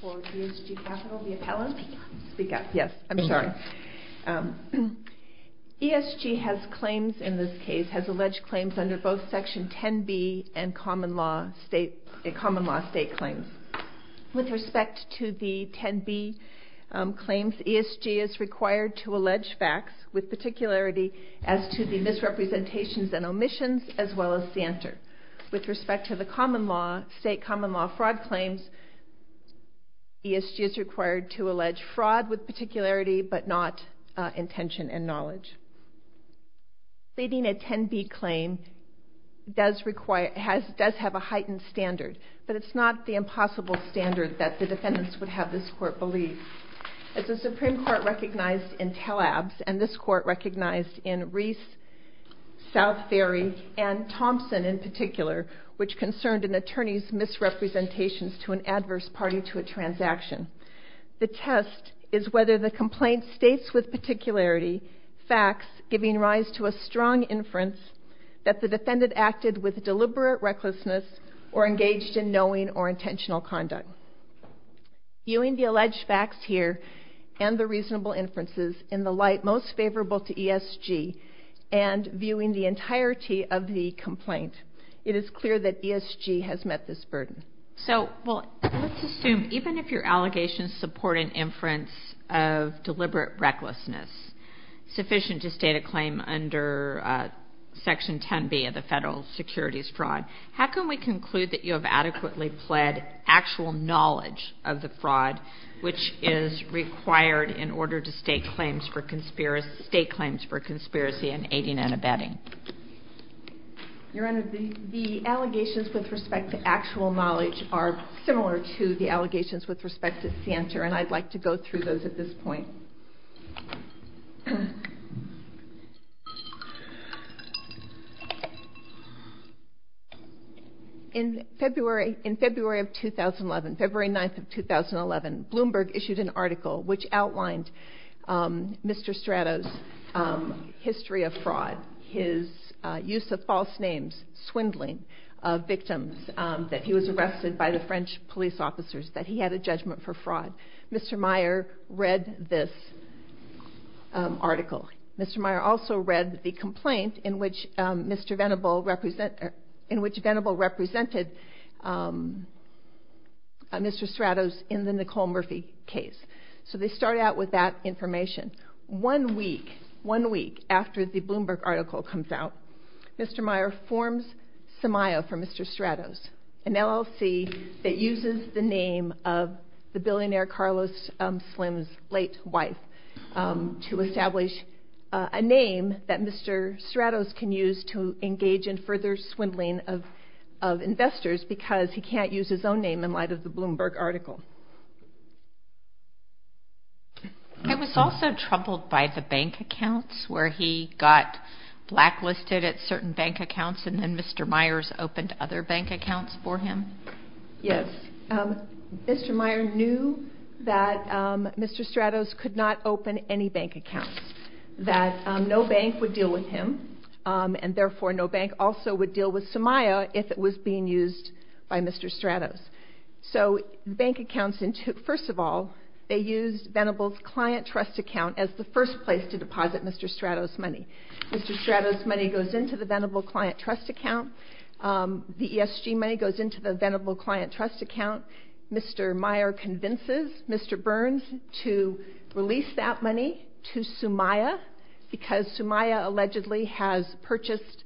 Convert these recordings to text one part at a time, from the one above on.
for ESG Capital, the appellant? Speak up, yes. I'm sorry. ESG has claims in this case, has alleged claims under both Section 10b and common law state, common law state claims. With respect to the 10b claims, ESG is required to allege facts with particularity as to the common law, state common law fraud claims. ESG is required to allege fraud with particularity but not intention and knowledge. Leading a 10b claim does require, does have a heightened standard, but it's not the impossible standard that the defendants would have this court believe. As the Supreme Court recognized in Tellabs and this court recognized in Reese, South Ferry, and Thompson in particular, which concerned an attorney's misrepresentations to an adverse party to a transaction. The test is whether the complaint states with particularity facts giving rise to a strong inference that the defendant acted with deliberate recklessness or engaged in knowing or intentional conduct. Viewing the alleged facts here and the reasonable inferences in the light most ESG has met this burden. So let's assume even if your allegations support an inference of deliberate recklessness, sufficient to state a claim under Section 10b of the federal securities fraud, how can we conclude that you have adequately pled actual knowledge of the fraud which is required in order to state claims for conspiracy and aiding and abetting? Your Honor, the allegations with respect to actual knowledge are similar to the allegations with respect to Santer, and I'd like to go through those at this point. In February, in February of 2011, February 9th of 2011, Bloomberg issued an article which is use of false names, swindling of victims, that he was arrested by the French police officers, that he had a judgment for fraud. Mr. Meyer read this article. Mr. Meyer also read the complaint in which Mr. Venable represented Mr. Stratos in the Nicole Murphy case. So they start out with that information. One week, one week after the Bloomberg article comes out, Mr. Meyer forms Somio for Mr. Stratos, an LLC that uses the name of the billionaire Carlos Slim's late wife to establish a name that Mr. Stratos can use to engage in further swindling of investors because he can't use his own name in light of the Bloomberg article. He was also troubled by the bank accounts where he got blacklisted at certain bank accounts and then Mr. Meyer's opened other bank accounts for him? Yes. Mr. Meyer knew that Mr. Stratos could not open any bank accounts, that no bank would deal with him, and therefore no bank also would deal with Somio if it was being used by Mr. Stratos. So the bank accounts, first of all, they used Venable's client trust account as the first place to deposit Mr. Stratos' money. Mr. Stratos' money goes into the Venable client trust account. The ESG money goes into the Venable client trust account. Mr. Meyer convinces Mr. Burns to release that money to Somio because Somio allegedly has purchased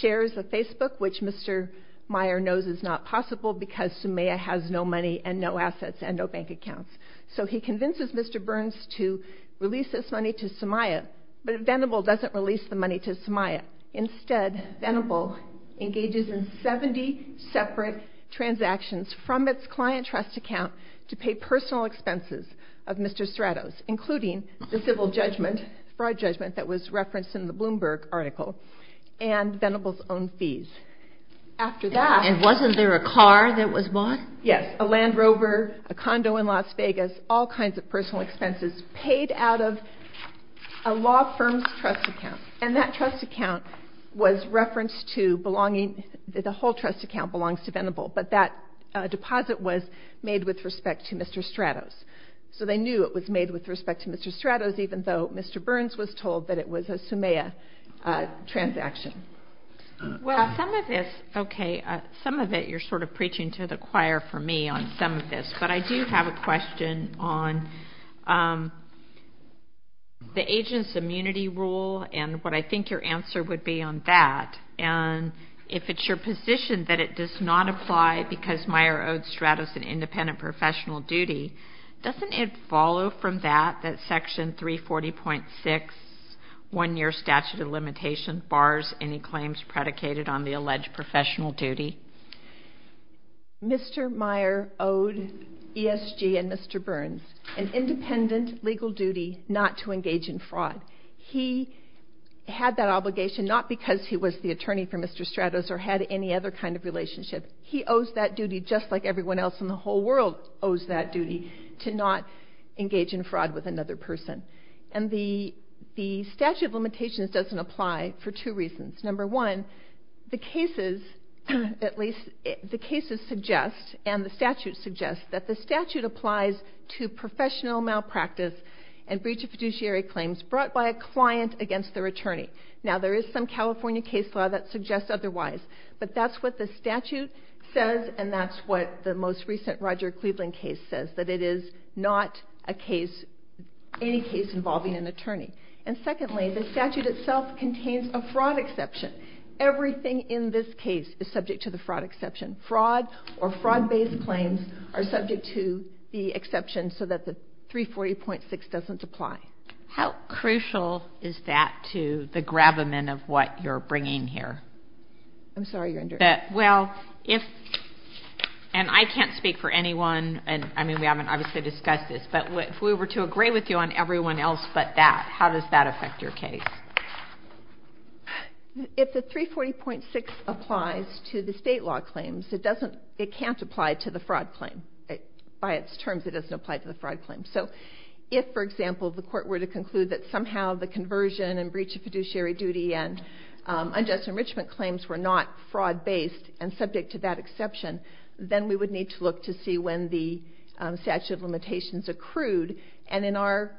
shares of Facebook, which Mr. Meyer knows is not possible because Somio has no money and no assets and no bank accounts. So he convinces Mr. Burns to release this money to Somio, but Venable doesn't release the money to Somio. Instead, Venable engages in 70 separate transactions from its client trust account to pay personal expenses of Mr. Stratos, including the civil judgment, fraud judgment that was referenced in the Bloomberg article, and Venable's own fees. After that... And wasn't there a car that was bought? Yes, a Land Rover, a condo in Las Vegas, all kinds of personal expenses paid out of a law firm's trust account. And that trust account was referenced to belonging... The whole trust account belongs to Venable, but that deposit was made with respect to Mr. Stratos. So they knew it was made with respect to Mr. Stratos, even though Mr. Burns was told that it was a Somio transaction. Well, some of this... Okay, some of it you're sort of preaching to the choir for me on some of this, but I do have a question on the agent's immunity rule and what I think your answer would be on that. And if it's your position that it does not apply because Meyer owed Mr. Stratos an independent professional duty, doesn't it follow from that that Section 340.6, One Year Statute of Limitation, bars any claims predicated on the alleged professional duty? Mr. Meyer owed ESG and Mr. Burns an independent legal duty not to engage in fraud. He had that obligation not because he was the attorney for Mr. Stratos or had any other kind of relationship. He owes that duty just like everyone else in the whole world owes that duty to not engage in fraud with another person. And the statute of limitations doesn't apply for two reasons. Number one, the cases suggest and the statute suggests that the statute applies to professional malpractice and breach of fiduciary claims brought by a client against their attorney. Now there is some California case law that suggests otherwise, but that's what the statute says and that's what the most recent Roger Cleveland case says, that it is not a case, any case involving an attorney. And secondly, the statute itself contains a fraud exception. Everything in this case is subject to the fraud exception. Fraud or fraud-based claims are subject to the exception so that the 340.6 doesn't apply. How crucial is that to the gravamen of what you're bringing here? I'm sorry, you're interrupting. Well, if, and I can't speak for anyone, and I mean we haven't obviously discussed this, but if we were to agree with you on everyone else but that, how does that affect your case? If the 340.6 applies to the state law claims, it doesn't, it can't apply to the fraud claim. By its terms, it doesn't apply to the fraud claim. So if, for example, the court were to conclude that somehow the conversion and breach of fiduciary duty and unjust enrichment claims were not fraud-based and subject to that exception, then we would need to look to see when the statute of limitations accrued. And in our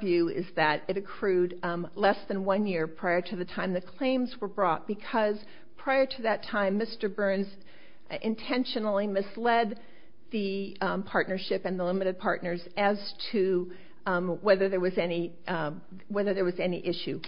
view is that it accrued less than one year prior to the time the claims were brought because prior to that time, Mr. Burns intentionally misled the partnership and the limited partners as to whether there was any issue.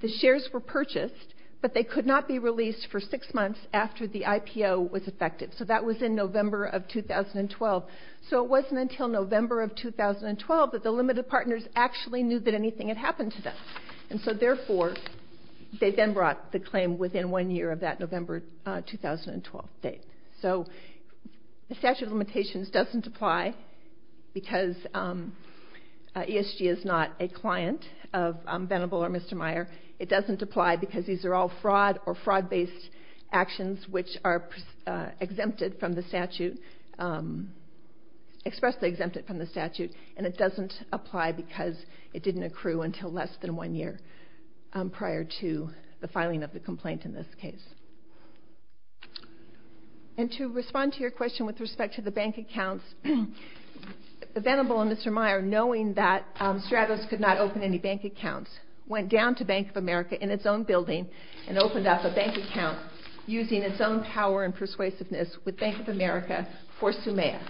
The shares were purchased, but they could not be released for six months after the IPO was effective. So that was in November of 2012. So it wasn't until November of 2012 that the limited partners actually knew that anything had happened to them. And so therefore, they then brought the claim within one year of that November 2012 date. So the statute of limitations doesn't apply because ESG is not a client of Venable or Mr. Meyer. It doesn't apply because these are all fraud or fraud-based actions which are exempted from the statute, expressly exempted from the statute. And it doesn't apply because it didn't accrue until less than one year prior to the filing of the complaint in this case. And to respond to your question with respect to the bank accounts, Venable and Mr. Meyer, knowing that Stratos could not open any bank accounts, went down to Bank of America in its own building and opened up a bank account using its own power and persuasiveness with Bank of America for Sumea.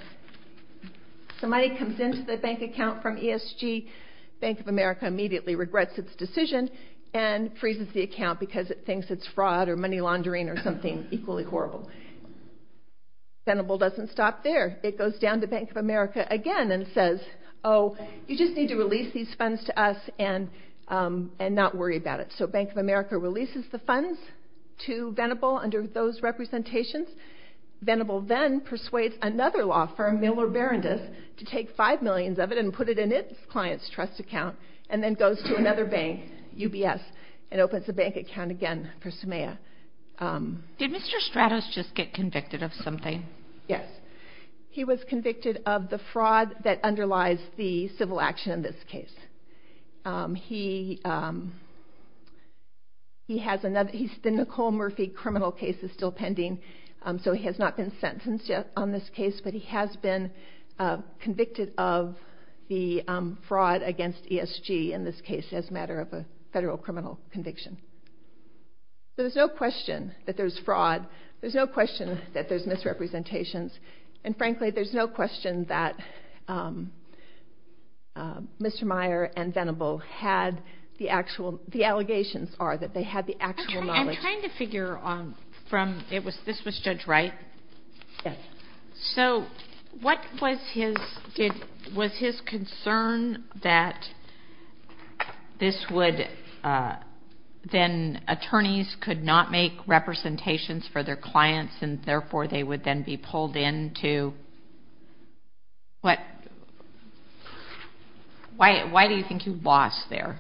Somebody comes into the bank account from ESG, Bank of America immediately regrets its decision and freezes the account because it thinks it's fraud or money laundering or something equally horrible. Venable doesn't stop there. It goes down to Bank of America again and says, oh, you just need to release these funds to us and not worry about it. So Bank of America releases the funds to Venable under those representations. Venable then persuades another law firm, Miller Berendez, to take five millions of it and open up its client's trust account and then goes to another bank, UBS, and opens a bank account again for Sumea. Did Mr. Stratos just get convicted of something? Yes. He was convicted of the fraud that underlies the civil action in this case. The Nicole Murphy criminal case is still pending, so he has not been sentenced yet on this case, but he has been convicted of the fraud against ESG in this case as a matter of a federal criminal conviction. So there's no question that there's fraud. There's no question that there's misrepresentations. And frankly, there's no question that Mr. Meyer and Venable had the actual, the allegations are that they had the actual knowledge. I'm trying to figure from, this was Judge Wright. So what was his, was his concern that this would, then attorneys could not make representations for their clients and therefore they would then be pulled into, what, why do you think he lost there?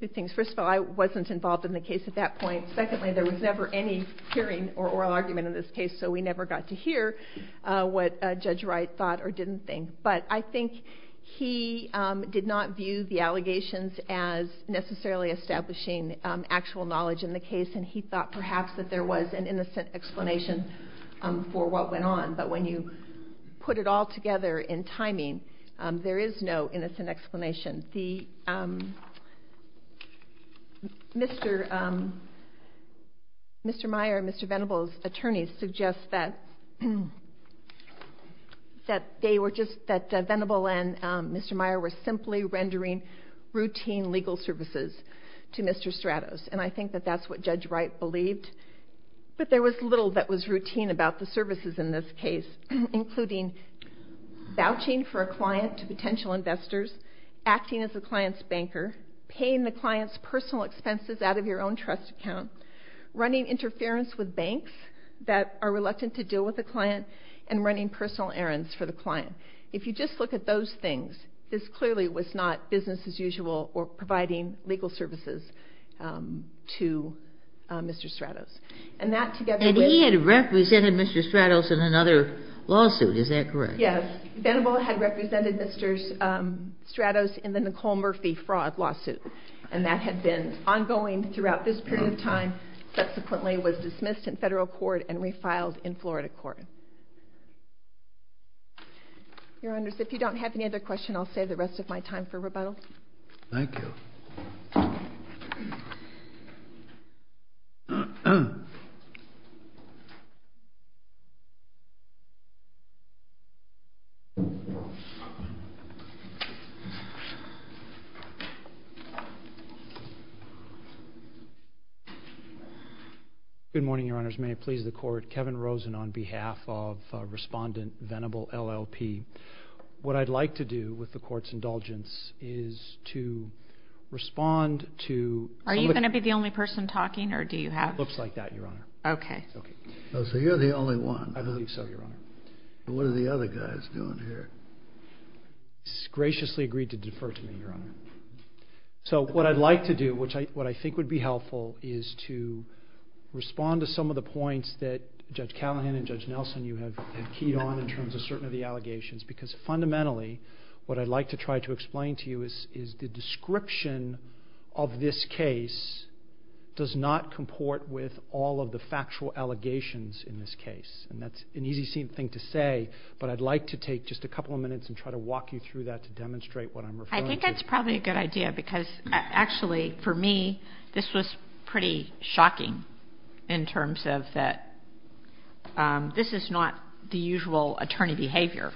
Good things. First of all, I wasn't involved in the case at that point. Secondly, there was never any hearing or oral argument in this case, so we never got to hear what Judge Wright thought or didn't think. But I think he did not view the allegations as necessarily establishing actual knowledge in the case, and he thought perhaps that there was an innocent explanation for what went on. But when you put it all together in timing, there is no doubt that Mr. Meyer and Mr. Venable's attorneys suggest that they were just, that Venable and Mr. Meyer were simply rendering routine legal services to Mr. Stratos. And I think that that's what Judge Wright believed. But there was little that was routine about the services in this case, including vouching for a client to potential investors, acting as the client's banker, paying the client's personal expenses out of your own trust account, running interference with banks that are reluctant to deal with the client, and running personal errands for the client. If you just look at those things, this clearly was not business as usual or providing legal services to Mr. Stratos. And that together with... And he had represented Mr. Stratos in another lawsuit, is that correct? Yes. Venable had represented Mr. Stratos in the Nicole Murphy fraud lawsuit, and that had been ongoing throughout this period of time, subsequently was dismissed in federal court and refiled in Florida court. Your Honors, if you don't have any other question, I'll save the rest of my time for rebuttal. Good morning, Your Honors. May it please the court, Kevin Rosen on behalf of Respondent Venable, LLP. What I'd like to do with the court's indulgence is to respond to... Are you going to be the only person talking or do you have... It looks like that, Your Honor. Okay. Okay. So you're the only one. I believe so, Your Honor. What are the other guys doing here? He's graciously agreed to defer to me, Your Honor. So what I'd like to do, which I think would be helpful, is to respond to some of the points that Judge Callahan and Judge Nelson you have keyed on in terms of certain of the allegations, because fundamentally what I'd like to try to explain to you is the description of this case does not comport with all of the factual allegations in this case. And that's an easy thing to say, but I'd like to take just a couple of minutes and try to walk you through that to demonstrate what I'm referring to. I think that's probably a good idea, because actually for me, this was pretty shocking in terms of that this is not the usual attorney behavior.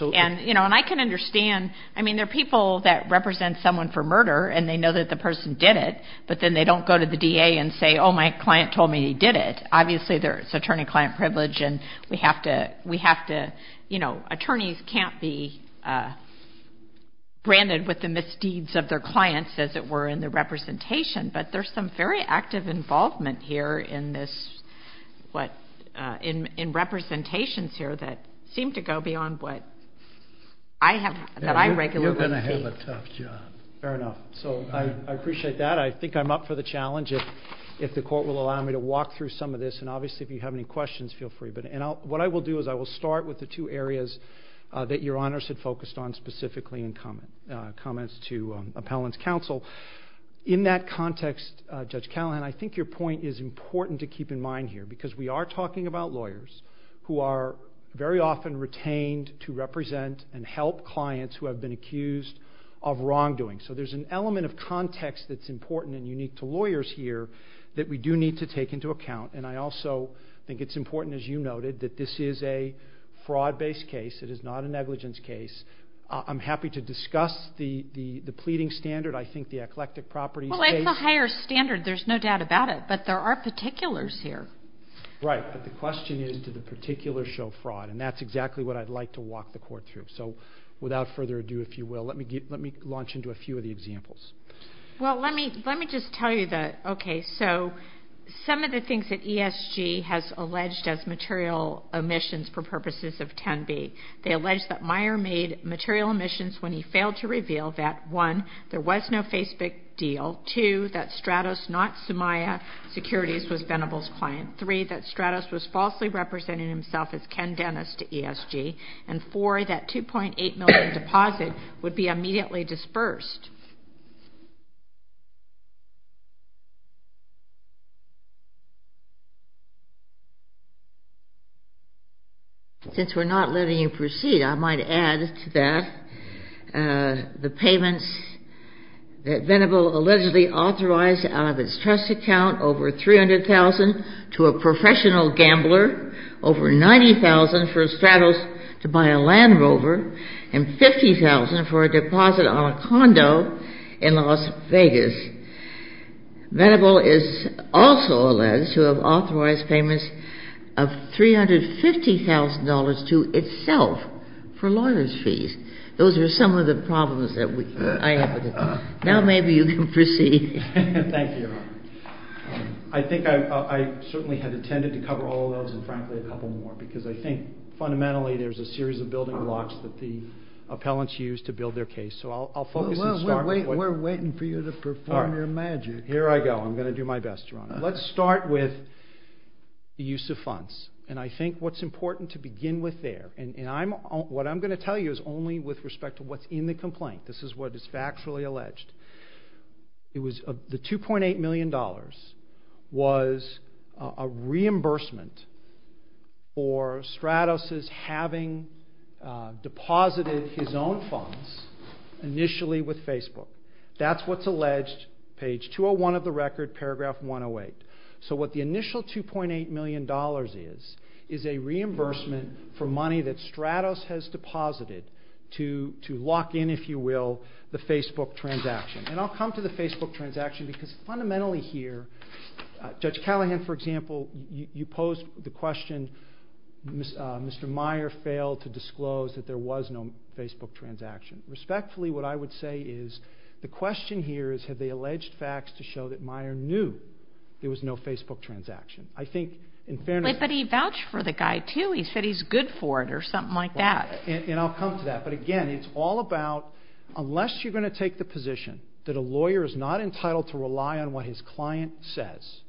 And I can understand. I mean, there are people that represent someone for murder and they know that the person did it, but then they don't go to the DA and say, oh, my client told me he did it. Obviously there's attorney-client privilege and we have to, you know, attorneys can't be branded with the misdeeds of their clients, as it were, in the representation. But there's some very active involvement here in this, in representations here that seem to go beyond what I have, that I regularly see. You're going to have a tough job. Fair enough. So I appreciate that. I think I'm up for the challenge if the court will allow me to walk through some of this. And obviously if you have any questions, feel free. But what I will do is I will start with the two areas that Your Honors had focused on specifically in comments to Appellant's counsel. In that context, Judge Callahan, I think your point is important to keep in mind here, because we are talking about lawyers who are very often retained to represent and help clients who have been accused of wrongdoing. So there's an element of context that's important and unique to lawyers here that we do need to take into account. And I also think it's important, as you noted, that this is a fraud-based case. It is not a negligence case. I'm happy to discuss the pleading standard. I think the eclectic properties case... Well, it's a higher standard. There's no doubt about it. But there are particulars here. Right. But the question is, do the particulars show fraud? And that's exactly what I'd like to walk the court through. So without further ado, if you will, let me launch into a few of the examples. Well, let me just tell you that, okay, so some of the things that ESG has alleged as material omissions for purposes of 10b, they allege that Meyer made material omissions when he failed to reveal that, one, there was no Facebook deal, two, that Stratos, not Somaya Securities, was Venable's client, three, that Stratos was falsely representing himself as Ken Dennis to ESG, and four, that $2.8 million deposit would be immediately dispersed. Since we're not letting you proceed, I might add to that the payments that Venable allegedly authorized out of his trust account, over $300,000 to a professional gambler, over $90,000 for Stratos to buy a Land Rover, and $50,000 for a deposit on a condo in Las Vegas. Venable is also alleged to have authorized payments of $350,000 to itself for lawyer's fees. Now, maybe you can proceed. Thank you, Your Honor. I think I certainly had intended to cover all of those and, frankly, a couple more, because I think, fundamentally, there's a series of building blocks that the appellants use to build their case. So I'll focus and start with what... Well, we're waiting for you to perform your magic. All right. Here I go. I'm going to do my best, Your Honor. Let's start with the use of funds, and I think what's important to begin with there, and what I'm going to tell you is only with respect to what's in the complaint. This is what is factually alleged. The $2.8 million was a reimbursement for Stratos' having deposited his own funds initially with Facebook. That's what's alleged, page 201 of the record, paragraph 108. So what the initial $2.8 million is is a reimbursement for money that Stratos has deposited to lock in, if you will, the Facebook transaction. And I'll come to the Facebook transaction, because fundamentally here, Judge Callahan, for example, you posed the question, Mr. Meyer failed to disclose that there was no Facebook transaction. Respectfully, what I would say is the question here is, have they alleged facts to show that Meyer knew there was no Facebook transaction? I think, in fairness... But he vouched for the guy, too. He said he's good for it or something like that. And I'll come to that. But again, it's all about, unless you're going to take the position that a lawyer is not entitled to rely on what his client says,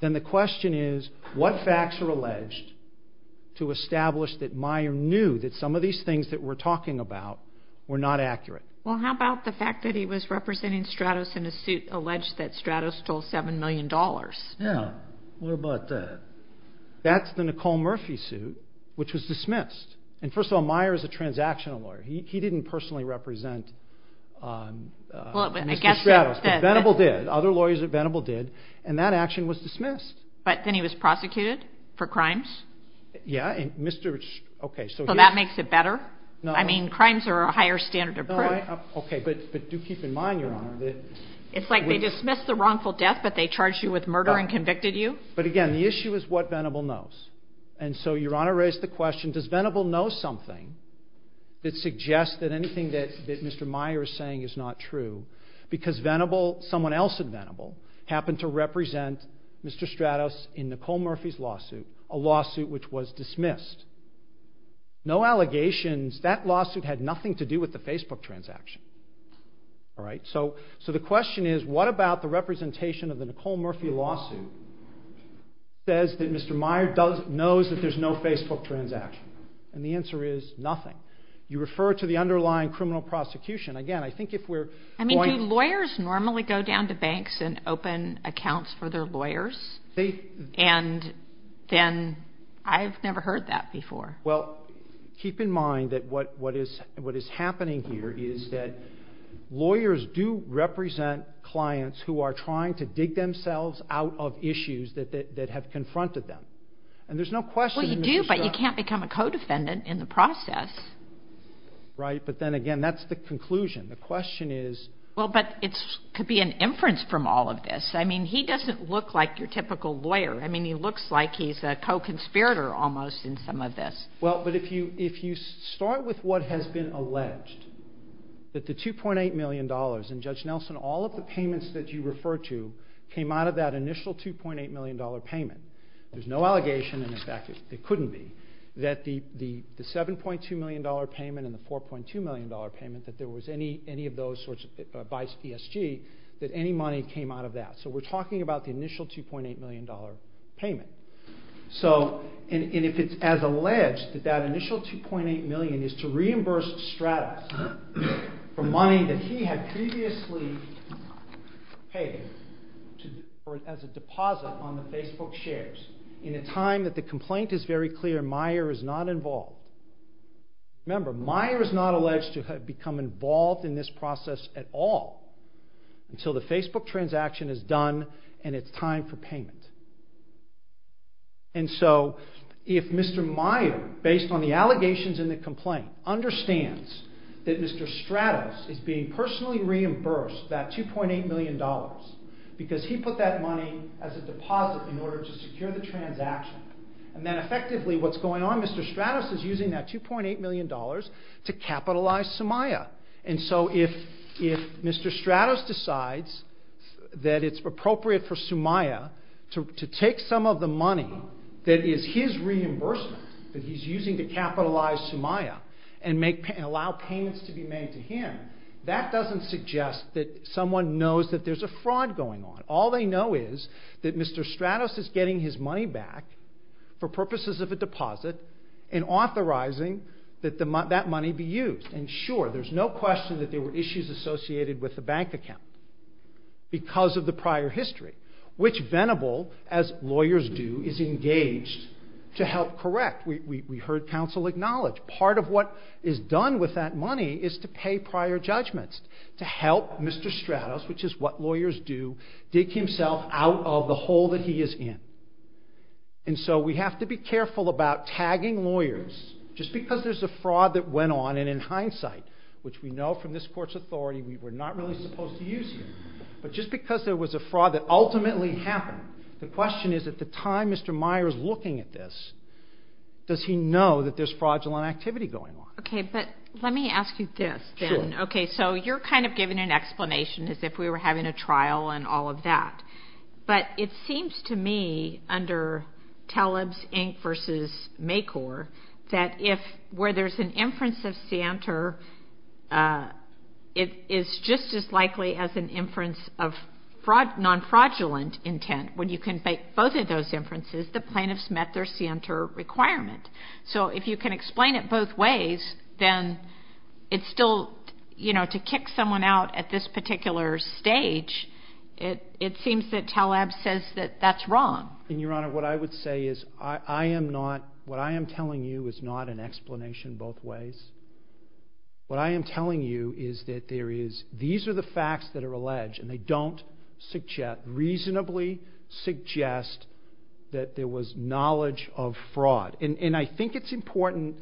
then the question is, what facts are alleged to establish that Meyer knew that some of these things that we're talking about were not accurate? Well, how about the fact that he was representing Stratos in a suit alleged that Stratos stole $7 million? Yeah. What about that? That's the Nicole Murphy suit, which was dismissed. And first of all, Meyer is a transactional lawyer. He didn't personally represent Mr. Stratos, but Venable did. Other lawyers at Venable did. And that action was dismissed. But then he was prosecuted for crimes? Yeah. And Mr. St... Okay. So that makes it better? No. I mean, crimes are a higher standard of proof. No, I... Okay. But do keep in mind, Your Honor, that... It's like they dismissed the wrongful death, but they charged you with murder and convicted you? But again, the issue is what Venable knows. And so Your Honor raised the question, does Venable know something that suggests that anything that Mr. Meyer is saying is not true? Because Venable, someone else at Venable, happened to represent Mr. Stratos in Nicole Murphy's lawsuit, a lawsuit which was dismissed. No allegations. That lawsuit had nothing to do with the Facebook transaction, all right? So the question is, what about the representation of the Nicole Murphy lawsuit that says that Mr. Meyer does... Knows that there's no Facebook transaction? And the answer is nothing. You refer to the underlying criminal prosecution. Again, I think if we're... I mean, do lawyers normally go down to banks and open accounts for their lawyers? And then... I've never heard that before. Well, keep in mind that what is happening here is that lawyers do represent clients who are trying to dig themselves out of issues that have confronted them. And there's no question that Mr. Stratos... Well, you do, but you can't become a co-defendant in the process. Right. But then again, that's the conclusion. The question is... Well, but it could be an inference from all of this. I mean, he doesn't look like your typical lawyer. I mean, he looks like he's a co-conspirator almost in some of this. Well, but if you start with what has been alleged, that the $2.8 million, and Judge you refer to, came out of that initial $2.8 million payment, there's no allegation, and in fact, there couldn't be, that the $7.2 million payment and the $4.2 million payment, that there was any of those by ESG, that any money came out of that. So we're talking about the initial $2.8 million payment. So... And if it's as alleged that that initial $2.8 million is to reimburse Stratos for money that he had previously paid as a deposit on the Facebook shares, in a time that the complaint is very clear Meijer is not involved, remember, Meijer is not alleged to have become involved in this process at all, until the Facebook transaction is done and it's time for payment. And so, if Mr. Meijer, based on the allegations in the complaint, understands that Mr. Stratos is being personally reimbursed that $2.8 million, because he put that money as a deposit in order to secure the transaction, and then effectively what's going on, Mr. Stratos is using that $2.8 million to capitalize Sumaya. And so if Mr. Stratos decides that it's appropriate for Sumaya to take some of the money that is his reimbursement, that he's using to capitalize Sumaya, and allow payments to be made to him, that doesn't suggest that someone knows that there's a fraud going on. All they know is that Mr. Stratos is getting his money back for purposes of a deposit and authorizing that that money be used. And sure, there's no question that there were issues associated with the bank account because of the prior history, which Venable, as lawyers do, is engaged to help correct. We heard counsel acknowledge part of what is done with that money is to pay prior judgments, to help Mr. Stratos, which is what lawyers do, dig himself out of the hole that he is in. And so we have to be careful about tagging lawyers. Just because there's a fraud that went on, and in hindsight, which we know from this court's authority, we're not really supposed to use him, but just because there was a fraud that ultimately happened, the question is, at the time Mr. Meyer is looking at this, does he know that there's fraudulent activity going on? Okay, but let me ask you this then. Sure. Okay, so you're kind of giving an explanation as if we were having a trial and all of that. But it seems to me, under Taleb's Inc. v. MACOR, that if where there's an inference of scienter, it is just as likely as an inference of non-fraudulent intent. When you can make both of those inferences, the plaintiffs met their scienter requirement. So if you can explain it both ways, then it's still, you know, to kick someone out at this particular stage, it seems that Taleb says that that's wrong. And Your Honor, what I would say is, I am not, what I am telling you is not an explanation both ways. What I am telling you is that there is, these are the facts that are alleged, and they don't reasonably suggest that there was knowledge of fraud. And I think it's important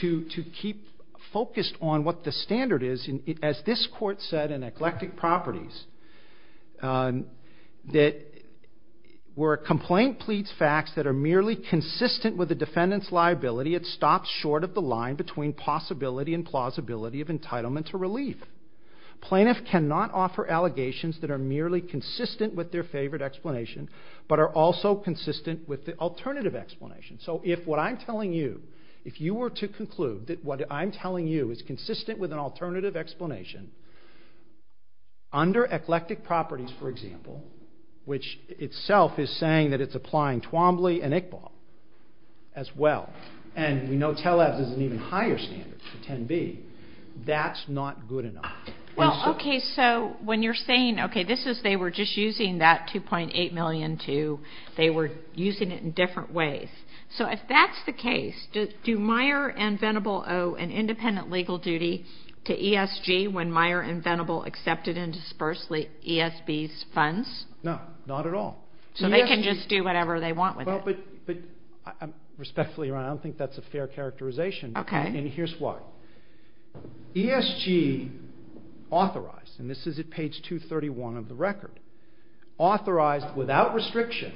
to keep focused on what the standard is, as this Court said in eclectic properties, that where a complaint pleads facts that are merely consistent with the defendant's liability, it stops short of the line between possibility and plausibility of entitlement to relief. Plaintiffs cannot offer allegations that are merely consistent with their favorite explanation, but are also consistent with the alternative explanation. So if what I am telling you, if you were to conclude that what I am telling you is consistent with an alternative explanation, under eclectic properties, for example, which itself is saying that it's applying Twombly and Iqbal as well, and we know Taleb's is an even higher standard, 10B, that's not good enough. Well, okay, so when you're saying, okay, this is, they were just using that 2.8 million to, they were using it in different ways. So if that's the case, do Meyer and Venable owe an independent legal duty to ESG when Meyer and Venable accepted and disbursed ESB's funds? No, not at all. So they can just do whatever they want with it. Well, but, respectfully, Your Honor, I don't think that's a fair characterization, and here's why. ESG authorized, and this is at page 231 of the record, authorized without restriction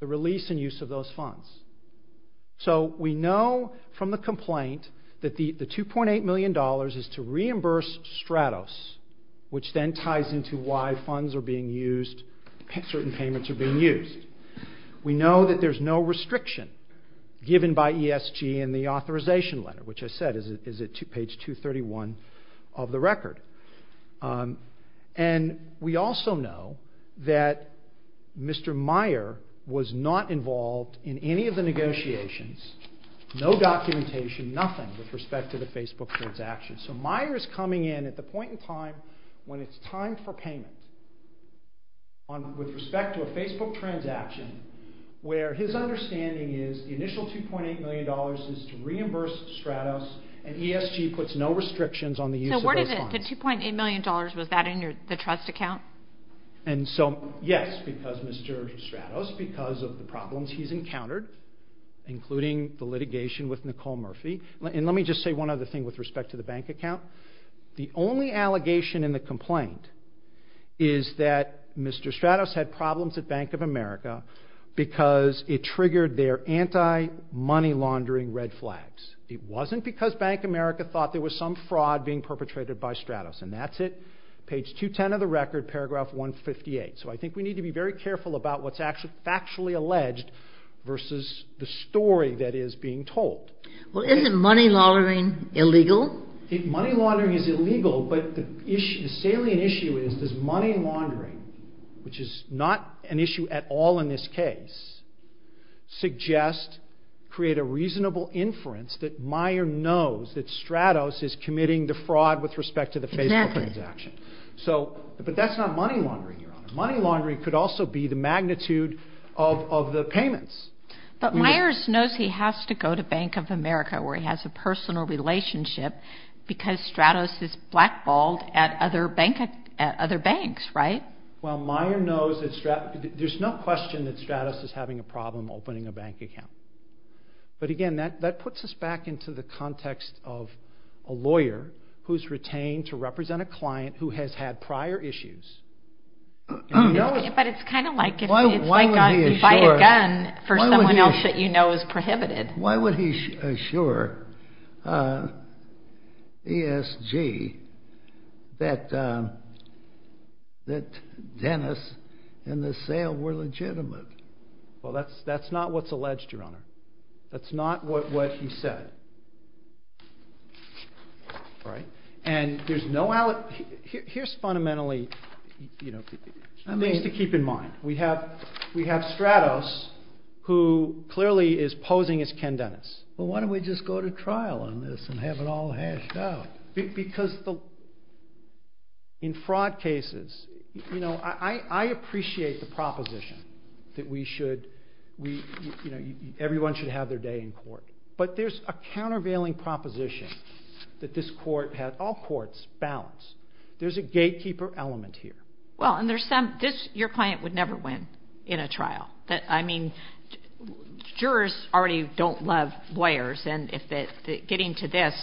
the release and use of those funds. So we know from the complaint that the 2.8 million dollars is to reimburse Stratos, which then ties into why funds are being used, certain payments are being used. We know that there's no restriction given by ESG in the authorization letter, which I said is at page 231 of the record, and we also know that Mr. Meyer was not involved in any of the negotiations, no documentation, nothing, with respect to the Facebook transaction. So Meyer is coming in at the point in time when it's time for payment, with respect to the Facebook transaction, where his understanding is the initial 2.8 million dollars is to reimburse Stratos, and ESG puts no restrictions on the use of those funds. So where did the 2.8 million dollars, was that in the trust account? And so, yes, because Mr. Stratos, because of the problems he's encountered, including the litigation with Nicole Murphy, and let me just say one other thing with respect to the bank account. The only allegation in the complaint is that Mr. Stratos had problems at Bank of America because it triggered their anti-money laundering red flags. It wasn't because Bank of America thought there was some fraud being perpetrated by Stratos, and that's it. Page 210 of the record, paragraph 158. So I think we need to be very careful about what's actually factually alleged versus the story that is being told. Well, isn't money laundering illegal? Money laundering is illegal, but the salient issue is, does money laundering, which is not an issue at all in this case, suggest, create a reasonable inference that Meijer knows that Stratos is committing the fraud with respect to the Facebook transaction. But that's not money laundering, Your Honor. Money laundering could also be the magnitude of the payments. But Meijer knows he has to go to Bank of America where he has a personal relationship because Stratos is blackballed at other banks, right? Well, Meijer knows that Stratos, there's no question that Stratos is having a problem opening a bank account. But again, that puts us back into the context of a lawyer who's retained to represent a client who has had prior issues. But it's kind of like if you buy a gun for someone else that you know is prohibited. Why would he assure ESG that Dennis and the sale were legitimate? Well, that's not what's alleged, Your Honor. That's not what he said. Here's fundamentally things to keep in mind. We have Stratos who clearly is posing as Ken Dennis. Well, why don't we just go to trial on this and have it all hashed out? Because in fraud cases, I appreciate the proposition that everyone should have their day in court. But there's a countervailing proposition that this court had all courts balanced. There's a gatekeeper element here. Well, and there's some, this, your client would never win in a trial. I mean, jurors already don't love lawyers and if they, getting to this,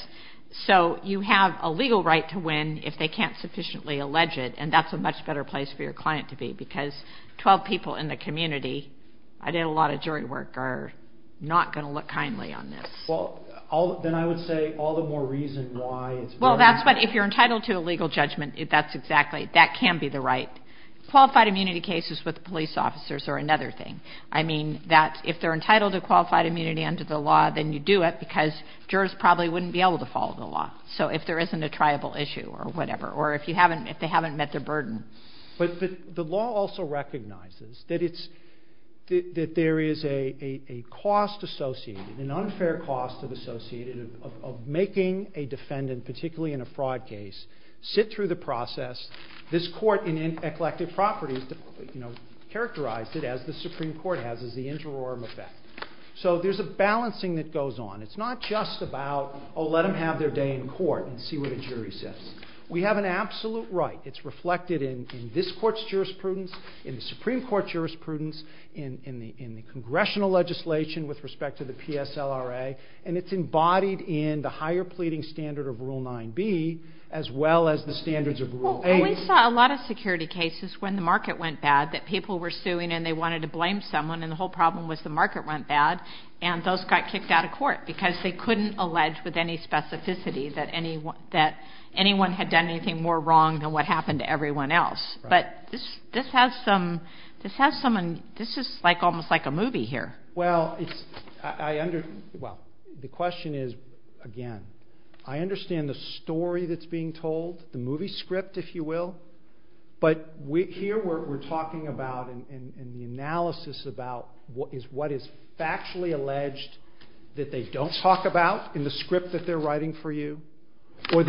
so you have a legal right to win if they can't sufficiently allege it and that's a much better place for your client to be because 12 people in the community, I did a lot of jury work, are not going to look kindly on this. Well, then I would say all the more reason why it's better. Well, that's what, if you're entitled to a legal judgment, that's exactly, that can be the right. Qualified immunity cases with police officers are another thing. I mean, that, if they're entitled to qualified immunity under the law, then you do it because jurors probably wouldn't be able to follow the law. So if there isn't a triable issue or whatever, or if you haven't, if they haven't met their burden. But the law also recognizes that it's, that there is a cost associated, an unfair cost associated of making a defendant, particularly in a fraud case, sit through the process. This court in eclectic properties, you know, characterized it as the Supreme Court has as the interim effect. So there's a balancing that goes on. It's not just about, oh, let them have their day in court and see what a jury says. We have an absolute right. It's reflected in this court's jurisprudence, in the Supreme Court's jurisprudence, in the congressional legislation with respect to the PSLRA, and it's embodied in the higher pleading standard of Rule 9b, as well as the standards of Rule 8. Well, we saw a lot of security cases when the market went bad that people were suing and they wanted to blame someone and the whole problem was the market went bad and those got kicked out of court because they couldn't allege with any specificity that anyone had done anything more wrong than what happened to everyone else. But this has some, this has some, this is like almost like a movie here. Well, it's, I under, well, the question is, again, I understand the story that's being told, the movie script, if you will, but we, here we're talking about and the analysis about what is, what is factually alleged that they don't talk about in the script that they're writing for you. Well,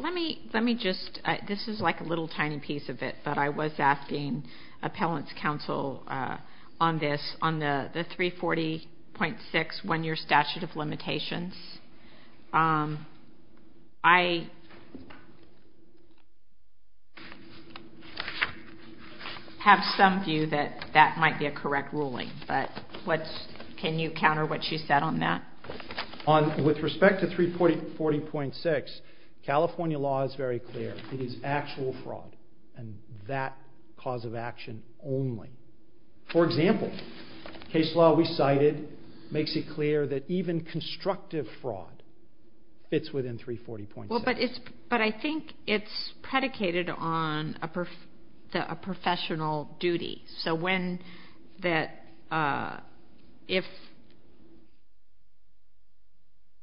let me, let me just, this is like a little tiny piece of it, but I was asking appellant's counsel on this, on the 340.6 one-year statute of limitations. I have some view that that might be a correct ruling, but what's, can you counter what she said on that? On, with respect to 340.6, California law is very clear, it is actual fraud and that cause of action only. For example, case law we cited makes it clear that even constructive fraud fits within 340.6. Well, but it's, but I think it's predicated on a, a professional duty. So when that, if,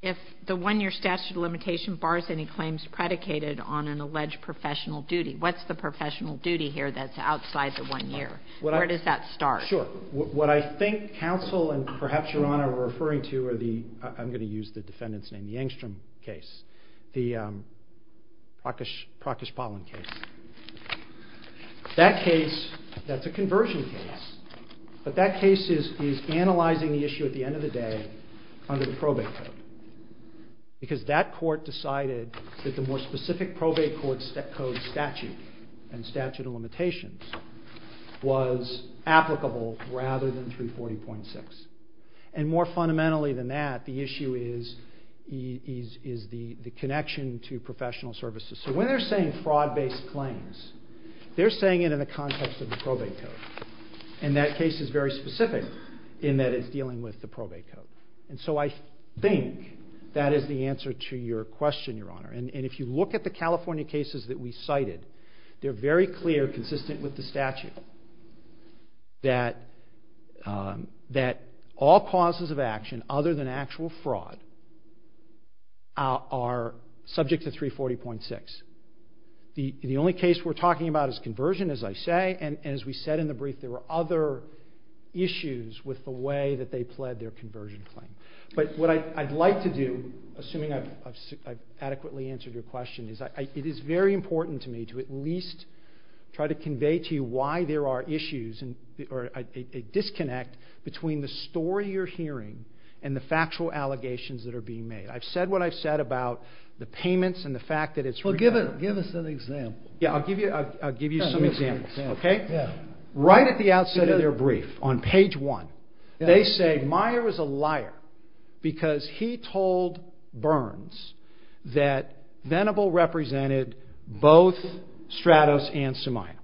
if the one-year statute of limitation bars any claims predicated on an alleged professional duty, what's the professional duty here that's outside the one-year, where does that start? Sure. What I think counsel and perhaps Your Honor are referring to are the, I'm going to use the defendant's name, the Engstrom case, the Prakash, Prakash Palan case. That case, that's a conversion case, but that case is, is analyzing the issue at the end of the day under the probate code because that court decided that the more specific probate court code statute and statute of limitations was applicable rather than 340.6. And more fundamentally than that, the issue is, is, is the, the connection to professional services. So when they're saying fraud-based claims, they're saying it in the context of the probate code. And that case is very specific in that it's dealing with the probate code. And so I think that is the answer to your question, Your Honor. And, and if you look at the California cases that we cited, they're very clear, consistent with the statute that, that all causes of action other than actual fraud are subject to 340.6. The only case we're talking about is conversion, as I say, and as we said in the brief, there were other issues with the way that they pled their conversion claim. But what I'd like to do, assuming I've adequately answered your question, is I, it is very important to me to at least try to convey to you why there are issues and, or a, a disconnect between the story you're hearing and the factual allegations that are being made. I've said what I've said about the payments and the fact that it's- Well, give it, give us an example. Yeah, I'll give you, I'll give you some examples. Okay? Yeah. Right at the outset of their brief, on page one, they say Meyer was a liar because he told Burns that Venable represented both Stratos and Somaya,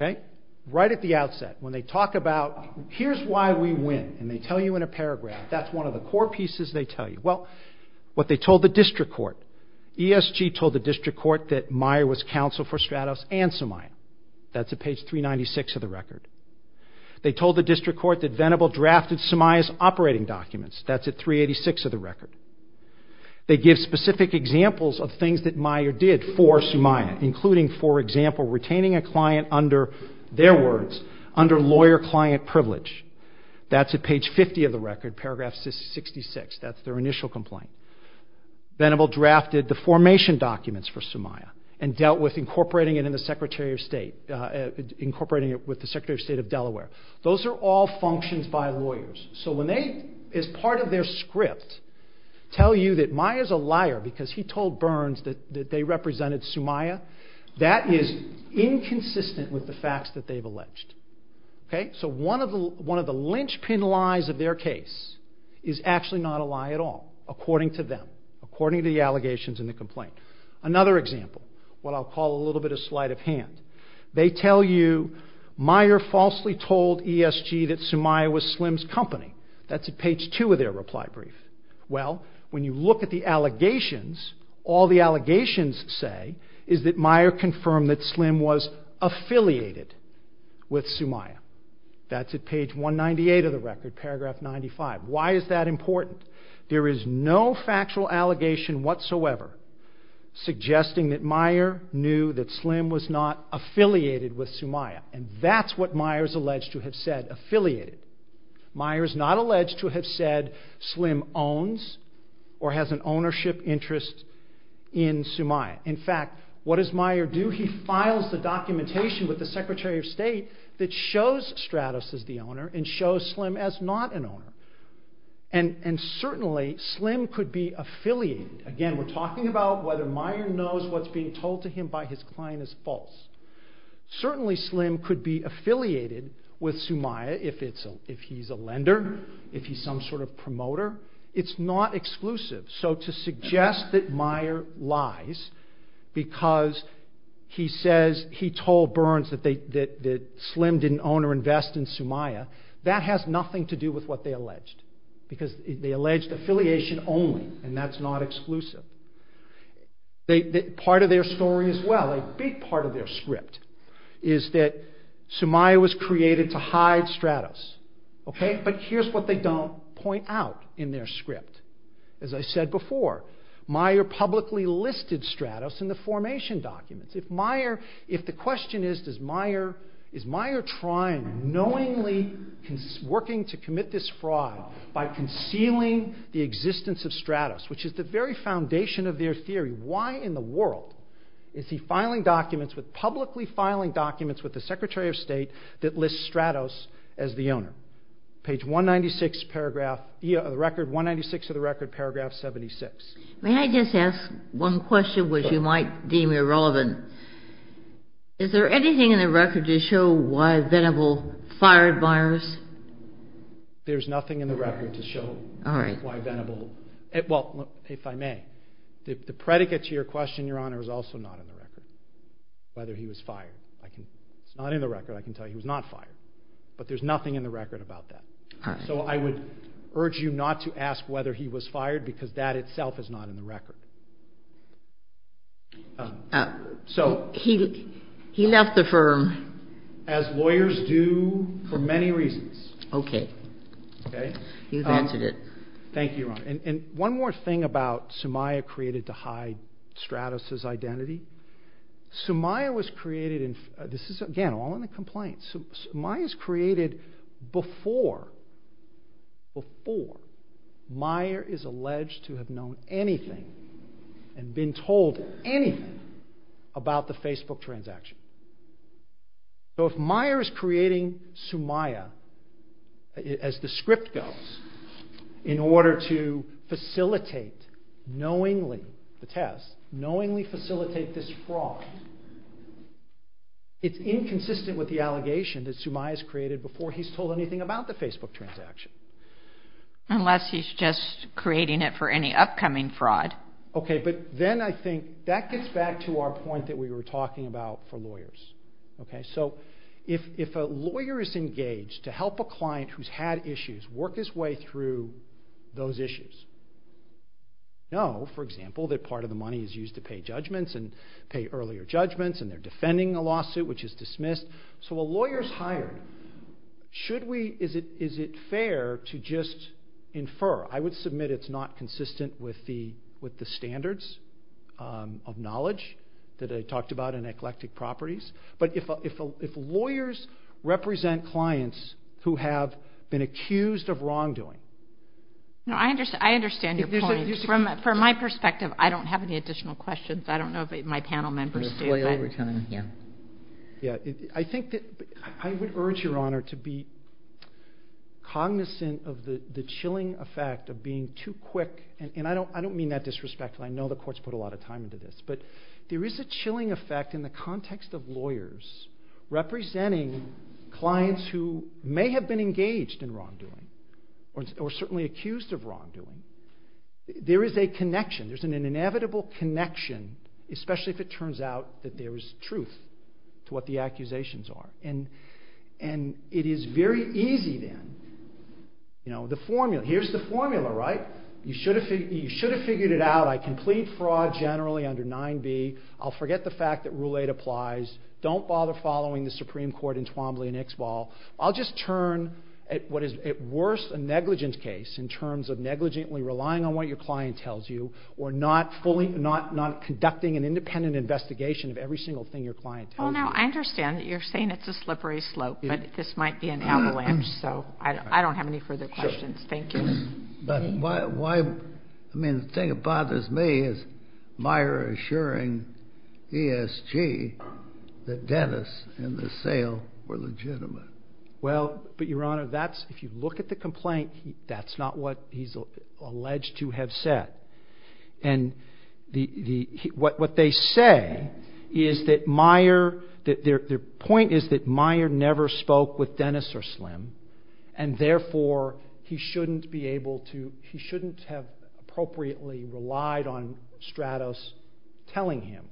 okay? Right at the outset, when they talk about, here's why we win, and they tell you in a paragraph, that's one of the core pieces they tell you. Well, what they told the district court, ESG told the district court that Meyer was counsel for Stratos and Somaya. That's at page 396 of the record. They told the district court that Venable drafted Somaya's operating documents. That's at 386 of the record. They give specific examples of things that Meyer did for Somaya, including, for example, retaining a client under, their words, under lawyer-client privilege. That's at page 50 of the record, paragraph 66. That's their initial complaint. Venable drafted the formation documents for Somaya and dealt with incorporating it in the Secretary of State, incorporating it with the Secretary of State of Delaware. Those are all functions by lawyers. So when they, as part of their script, tell you that Meyer's a liar because he told Burns that they represented Somaya, that is inconsistent with the facts that they've alleged, okay? So one of the linchpin lies of their case is actually not a lie at all, according to them, according to the allegations in the complaint. Another example, what I'll call a little bit of sleight of hand. They tell you Meyer falsely told ESG that Somaya was Slim's company. That's at page 2 of their reply brief. Well, when you look at the allegations, all the allegations say is that Meyer confirmed that Slim was affiliated with Somaya. That's at page 198 of the record, paragraph 95. Why is that important? There is no factual allegation whatsoever suggesting that Meyer knew that Slim was not affiliated with Somaya, and that's what Meyer's alleged to have said, affiliated. Meyer's not alleged to have said Slim owns or has an ownership interest in Somaya. In fact, what does Meyer do? He files the documentation with the Secretary of State that shows Stratus as the owner and shows Slim as not an owner, and certainly Slim could be affiliated. Again, we're talking about whether Meyer knows what's being told to him by his client is false. Certainly Slim could be affiliated with Somaya if he's a lender, if he's some sort of promoter. It's not exclusive. So to suggest that Meyer lies because he says he told Burns that Slim didn't own or invest in Somaya, that has nothing to do with what they alleged, because they alleged affiliation only, and that's not exclusive. Part of their story as well, a big part of their script, is that Somaya was created to hide Stratus, but here's what they don't point out in their script. As I said before, Meyer publicly listed Stratus in the formation documents. If the question is, is Meyer trying, knowingly working to commit this fraud by concealing the existence of Stratus, which is the very foundation of their theory. Why in the world is he publicly filing documents with the Secretary of State that list Stratus as the owner? Page 196 of the record, paragraph 76. May I just ask one question, which you might deem irrelevant. Is there anything in the record to show why Venable fired Myers? There's nothing in the record to show why Venable, well, if I may, the predicate to your question, Your Honor, is also not in the record, whether he was fired. It's not in the record. I can tell you he was not fired, but there's nothing in the record about that. I would urge you not to ask whether he was fired because that itself is not in the record. He left the firm. As lawyers do for many reasons. Okay. You've answered it. Thank you, Your Honor. One more thing about Sumaya created to hide Stratus' identity. Sumaya was created in, this is again, all in a complaint. Sumaya's created before, before Meyer is alleged to have known anything and been told anything about the Facebook transaction. So if Meyer is creating Sumaya, as the script goes, in order to facilitate knowingly, the Sumaya's created before he's told anything about the Facebook transaction. Unless he's just creating it for any upcoming fraud. Okay. But then I think that gets back to our point that we were talking about for lawyers. Okay. So if a lawyer is engaged to help a client who's had issues work his way through those issues, know, for example, that part of the money is used to pay judgments and pay earlier judgments and they're defending a lawsuit, which is dismissed. So a lawyer's hired. Should we, is it fair to just infer? I would submit it's not consistent with the standards of knowledge that I talked about in eclectic properties. But if lawyers represent clients who have been accused of wrongdoing. No, I understand your point. From my perspective, I don't have any additional questions. I don't know if my panel members do. We're going to play over time here. Yeah. I think that I would urge your honor to be cognizant of the chilling effect of being too quick. And I don't, I don't mean that disrespectfully. I know the courts put a lot of time into this, but there is a chilling effect in the context of lawyers representing clients who may have been engaged in wrongdoing or certainly accused of wrongdoing. There is a connection. There's an inevitable connection, especially if it turns out that there is truth to what the accusations are. And it is very easy then, you know, the formula, here's the formula, right? You should have figured it out. I can plead fraud generally under 9b. I'll forget the fact that rule eight applies. Don't bother following the Supreme Court in Twombly and Ixbal. I'll just turn at what is at worst a negligence case in terms of negligently relying on what your client tells you or not fully, not, not conducting an independent investigation of every single thing your client tells you. Well, now I understand that you're saying it's a slippery slope, but this might be an avalanche. So I don't have any further questions. Thank you. But why, why, I mean, the thing that bothers me is Meyer assuring ESG that Dennis and the sale were legitimate. Well, but your honor, that's, if you look at the complaint, that's not what he's alleged to have said. And the, the, what, what they say is that Meyer, that their point is that Meyer never spoke with Dennis or Slim and therefore he shouldn't be able to, he shouldn't have appropriately relied on Stratos telling him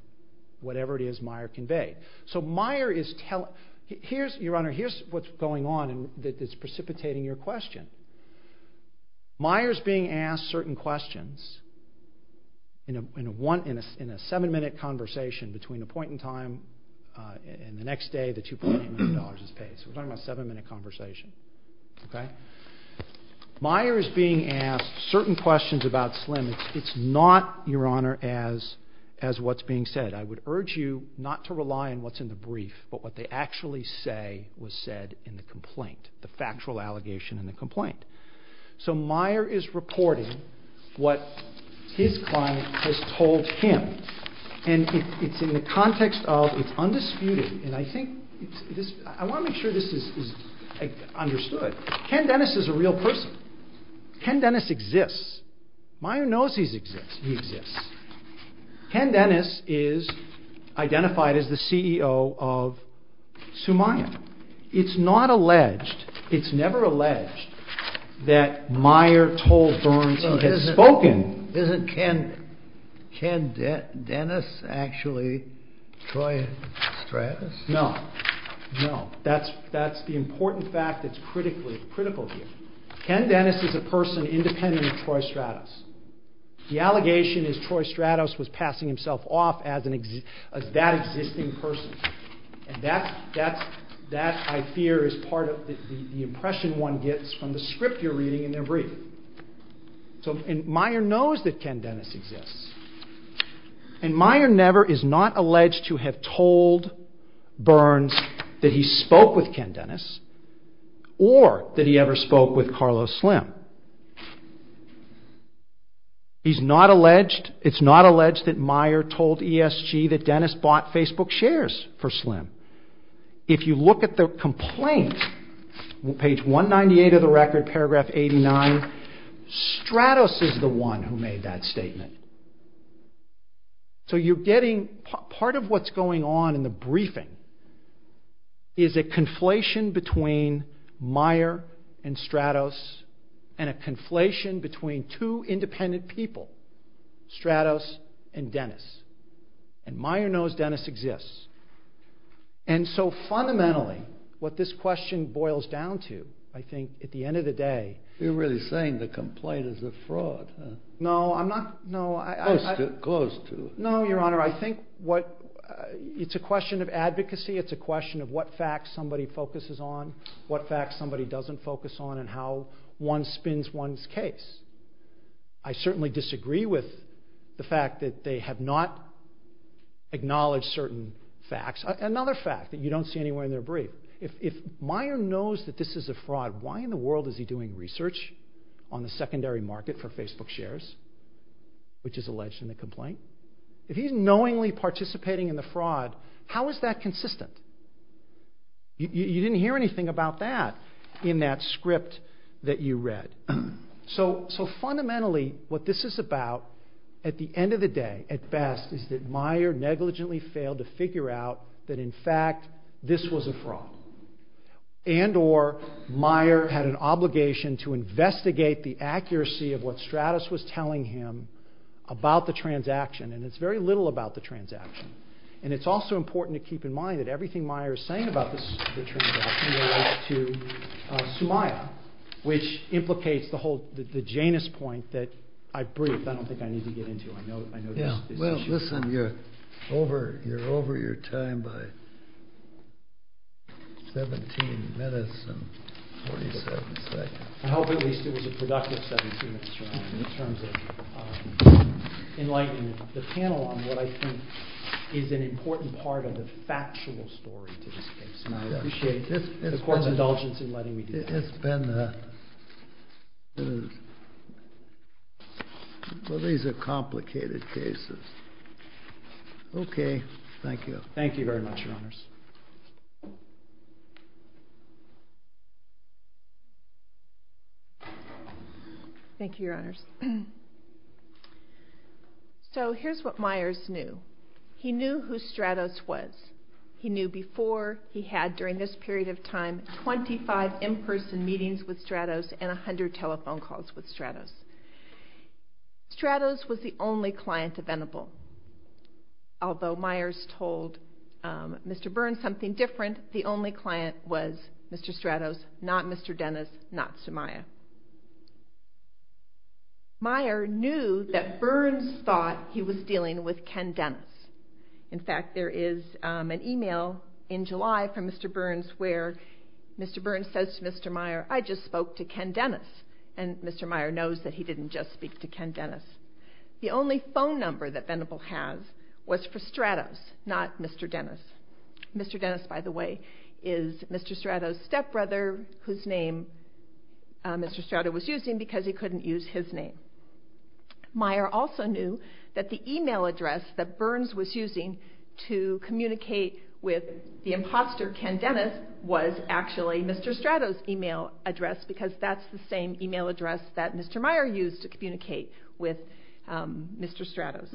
whatever it is Meyer conveyed. So Meyer is telling, here's your honor, here's what's going on and that it's precipitating your question. Meyer's being asked certain questions in a, in a one, in a, in a seven minute conversation between the point in time and the next day, the $2.8 million is paid. So we're talking about a seven minute conversation, okay? Meyer is being asked certain questions about Slim. It's not, your honor, as, as what's being said, I would urge you not to rely on what's in the brief, but what they actually say was said in the complaint, the factual allegation in the complaint. So Meyer is reporting what his client has told him and it, it's in the context of, it's undisputed and I think this, I want to make sure this is, is understood. Ken Dennis is a real person. Ken Dennis exists. Meyer knows he exists, he exists. Ken Dennis is identified as the CEO of Sumaya. It's not alleged, it's never alleged that Meyer told Burns he had spoken. Isn't Ken, Ken Dennis actually Troy Stratus? No, no, that's, that's the important fact that's critically, critical here. Ken Dennis is a person independent of Troy Stratus. The allegation is Troy Stratus was passing himself off as an, as that existing person and that, that's, that I fear is part of the impression one gets from the script you're reading in their brief. So, and Meyer knows that Ken Dennis exists and Meyer never is not alleged to have told Burns that he spoke with Ken Dennis or that he ever spoke with Carlos Slim. He's not alleged, it's not alleged that Meyer told ESG that Dennis bought Facebook shares for Slim. If you look at the complaint, page 198 of the record, paragraph 89, Stratus is the one who made that statement. So you're getting, part of what's going on in the briefing is a conflation between Meyer and Stratus and a conflation between two independent people, Stratus and Dennis. And Meyer knows Dennis exists. And so fundamentally, what this question boils down to, I think at the end of the day. You're really saying the complaint is a fraud, huh? No, I'm not, no, I, I, I, Close to, close to. No, your honor, I think what, it's a question of advocacy, it's a question of what facts somebody focuses on, what facts somebody doesn't focus on, and how one spins one's case. I certainly disagree with the fact that they have not acknowledged certain facts. Another fact that you don't see anywhere in their brief, if, if Meyer knows that this is a fraud, why in the world is he doing research on the secondary market for Facebook shares, which is alleged in the complaint? If he's knowingly participating in the fraud, how is that consistent? You, you didn't hear anything about that in that script that you read. So, so fundamentally, what this is about, at the end of the day, at best, is that Meyer negligently failed to figure out that in fact, this was a fraud. And or, Meyer had an obligation to investigate the accuracy of what Stratus was telling him about the transaction, and it's very little about the transaction. And it's also important to keep in mind that everything Meyer is saying about this, the transaction relates to Sumaya, which implicates the whole, the, the Janus point that I briefed. I don't think I need to get into, I know, I know this, this issue. Yeah, well, listen, you're over, you're over your time by 17 minutes and 47 seconds. I hope at least it was a productive 17 minutes, Your Honor, in terms of enlightening the panel on what I think is an important part of the factual story to this case. And I appreciate the court's indulgence in letting me do that. It's been a, it is, well, these are complicated cases. Okay, thank you. Thank you very much, Your Honors. Thank you, Your Honors. So here's what Meyers knew. He knew who Stratus was. He knew before he had, during this period of time, 25 in-person meetings with Stratus and 100 telephone calls with Stratus. Stratus was the only client available. Although Meyers told Mr. Byrne something different, the only client was Mr. Stratus, not Mr. Dennis, not Sumaya. Meyers knew that Byrne thought he was dealing with Ken Dennis. In fact, there is an email in July from Mr. Byrne where Mr. Byrne says to Mr. Meyers, I just spoke to Ken Dennis. And Mr. Meyers knows that he didn't just speak to Ken Dennis. The only phone number that Venable has was for Stratus, not Mr. Dennis. Mr. Dennis, by the way, is Mr. Stratus' stepbrother whose name Mr. Stratus was using because he couldn't use his name. Meyers also knew that the email address that Byrne was using to communicate with the imposter Ken Dennis was actually Mr. Stratus' email address because that's the same email address that Mr. Meyers used to communicate with Mr. Stratus.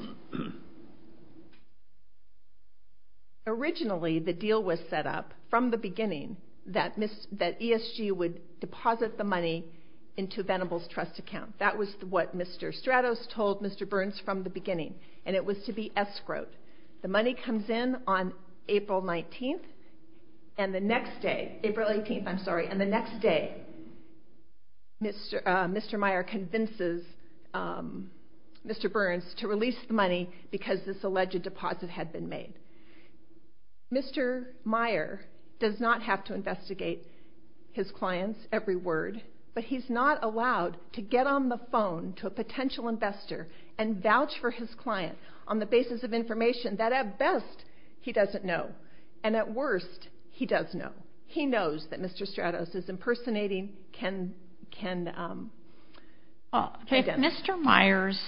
Originally, the deal was set up from the beginning that ESG would deposit the money into Venable's trust account. That was what Mr. Stratus told Mr. Byrne from the beginning and it was to be escrowed. The money comes in on April 19th and the next day, April 18th, I'm sorry, and the next day Mr. Meyers convinces Mr. Byrne to release the money because this alleged deposit had been made. Mr. Meyers does not have to investigate his client's every word, but he's not allowed to get on the phone to a potential investor and vouch for his client on the basis of information that at best he doesn't know and at worst he does know. He knows that Mr. Stratus is impersonating Ken Dennis. If Mr. Meyers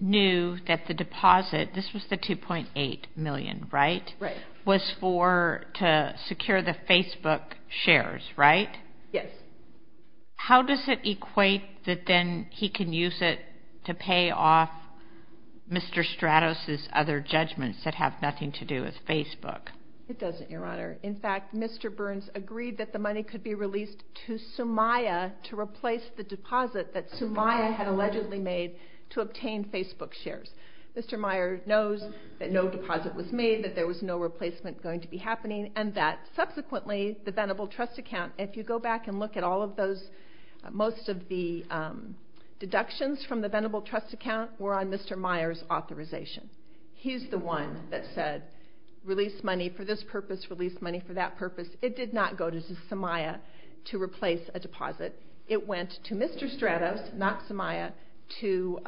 knew that the deposit, this was the $2.8 million, right? Right. Was for to secure the Facebook shares, right? Yes. How does it equate that then he can use it to pay off Mr. Stratus' other judgments that have nothing to do with Facebook? It doesn't, Your Honor. In fact, Mr. Byrnes agreed that the money could be released to Sumaya to replace the deposit that Sumaya had allegedly made to obtain Facebook shares. Mr. Meyers knows that no deposit was made, that there was no replacement going to be happening, and that subsequently the Venable Trust Account, if you go back and look at all of those, most of the deductions from the Venable Trust Account were on Mr. Meyers' authorization. He's the one that said, release money for this purpose, release money for that purpose. It did not go to Sumaya to replace a deposit. It went to Mr. Stratus, not Sumaya, to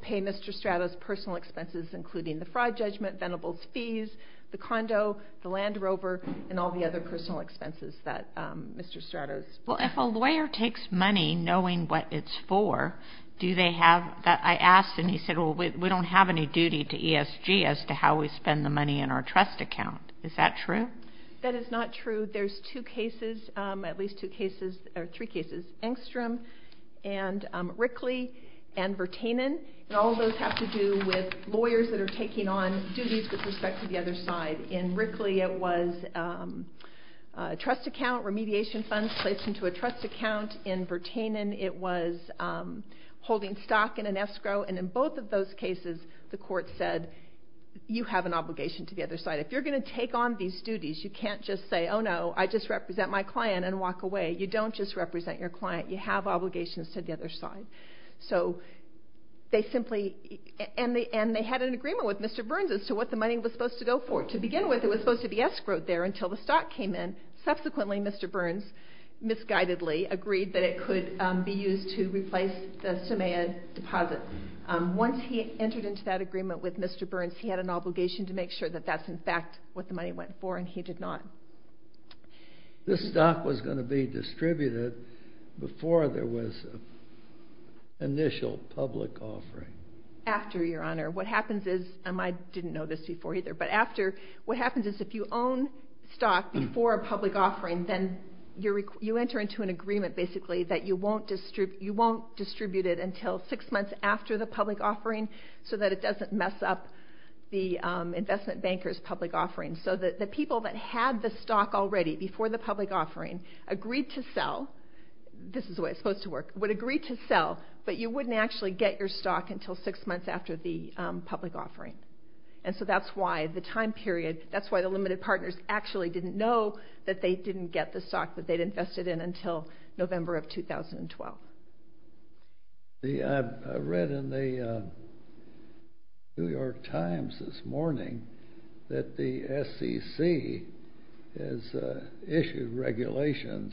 pay Mr. Stratus' personal expenses including the fraud judgment, Venable's fees, the condo, the Land Rover, and all the other personal expenses that Mr. Stratus... Well, if a lawyer takes money knowing what it's for, do they have... I asked and he said, well, we don't have any duty to ESG as to how we spend the money in our trust account. Is that true? That is not true. There's two cases, at least two cases, or three cases, Engstrom and Rickley and Vertainen, and all of those have to do with lawyers that are taking on duties with respect to the other side. In Rickley, it was a trust account, remediation funds placed into a trust account. In Vertainen, it was holding stock in an escrow, and in both of those cases, the court said, you have an obligation to the other side. If you're going to take on these duties, you can't just say, oh no, I just represent my client and walk away. You don't just represent your client. You have obligations to the other side. So they simply... And they had an agreement with Mr. Burns as to what the money was supposed to go for. To begin with, it was supposed to be escrowed there until the stock came in. Subsequently, Mr. Burns misguidedly agreed that it could be used to replace the SMAE deposit. Once he entered into that agreement with Mr. Burns, he had an obligation to make sure that that's in fact what the money went for, and he did not. This stock was going to be distributed before there was an initial public offering. After, Your Honor. What happens is, and I didn't know this before either, but after, what happens is, if you own stock before a public offering, then you enter into an agreement, basically, that you won't distribute it until six months after the public offering so that it doesn't mess up the investment banker's public offering. So the people that had the stock already before the public offering agreed to sell. This is the way it's supposed to work. Would agree to sell, but you wouldn't actually get your stock until six months after the public offering. And so that's why the time period, that's why the limited partners actually didn't know that they didn't get the stock that they'd invested in until November of 2012. I read in the New York Times this morning that the SEC has issued regulations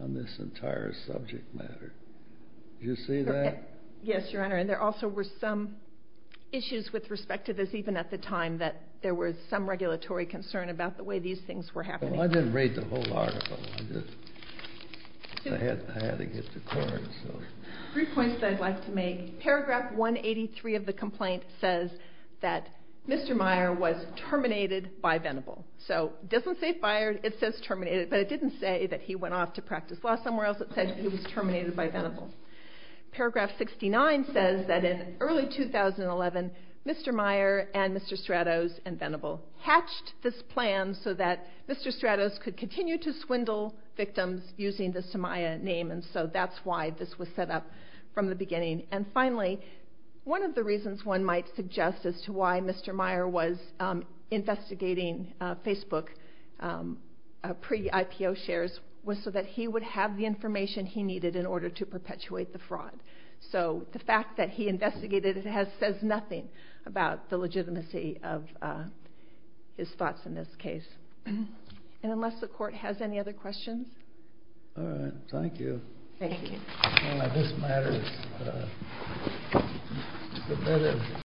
on this entire subject matter. Did you see that? Yes, Your Honor. And there also were some issues with respect to this, even at the time that there was some regulatory concern about the way these things were happening. I didn't read the whole article. I had to get to court. Three points that I'd like to make. Paragraph 183 of the complaint says that Mr. Meyer was terminated by Venable. So it doesn't say fired, it says terminated, but it didn't say that he went off to practice law somewhere else. It said he was terminated by Venable. Paragraph 69 says that in early 2011, Mr. Meyer and Mr. Stratos and Venable hatched this plan so that Mr. Stratos could continue to swindle victims using the Somaya name, and so that's why this was set up from the beginning. And finally, one of the reasons one might suggest as to why Mr. Meyer was investigating Facebook pre-IPO shares was so that he would have the information he needed in order to perpetuate the fraud. So the fact that he investigated it says nothing about the legitimacy of his thoughts in this case. And unless the court has any other questions? All right. Thank you. Thank you.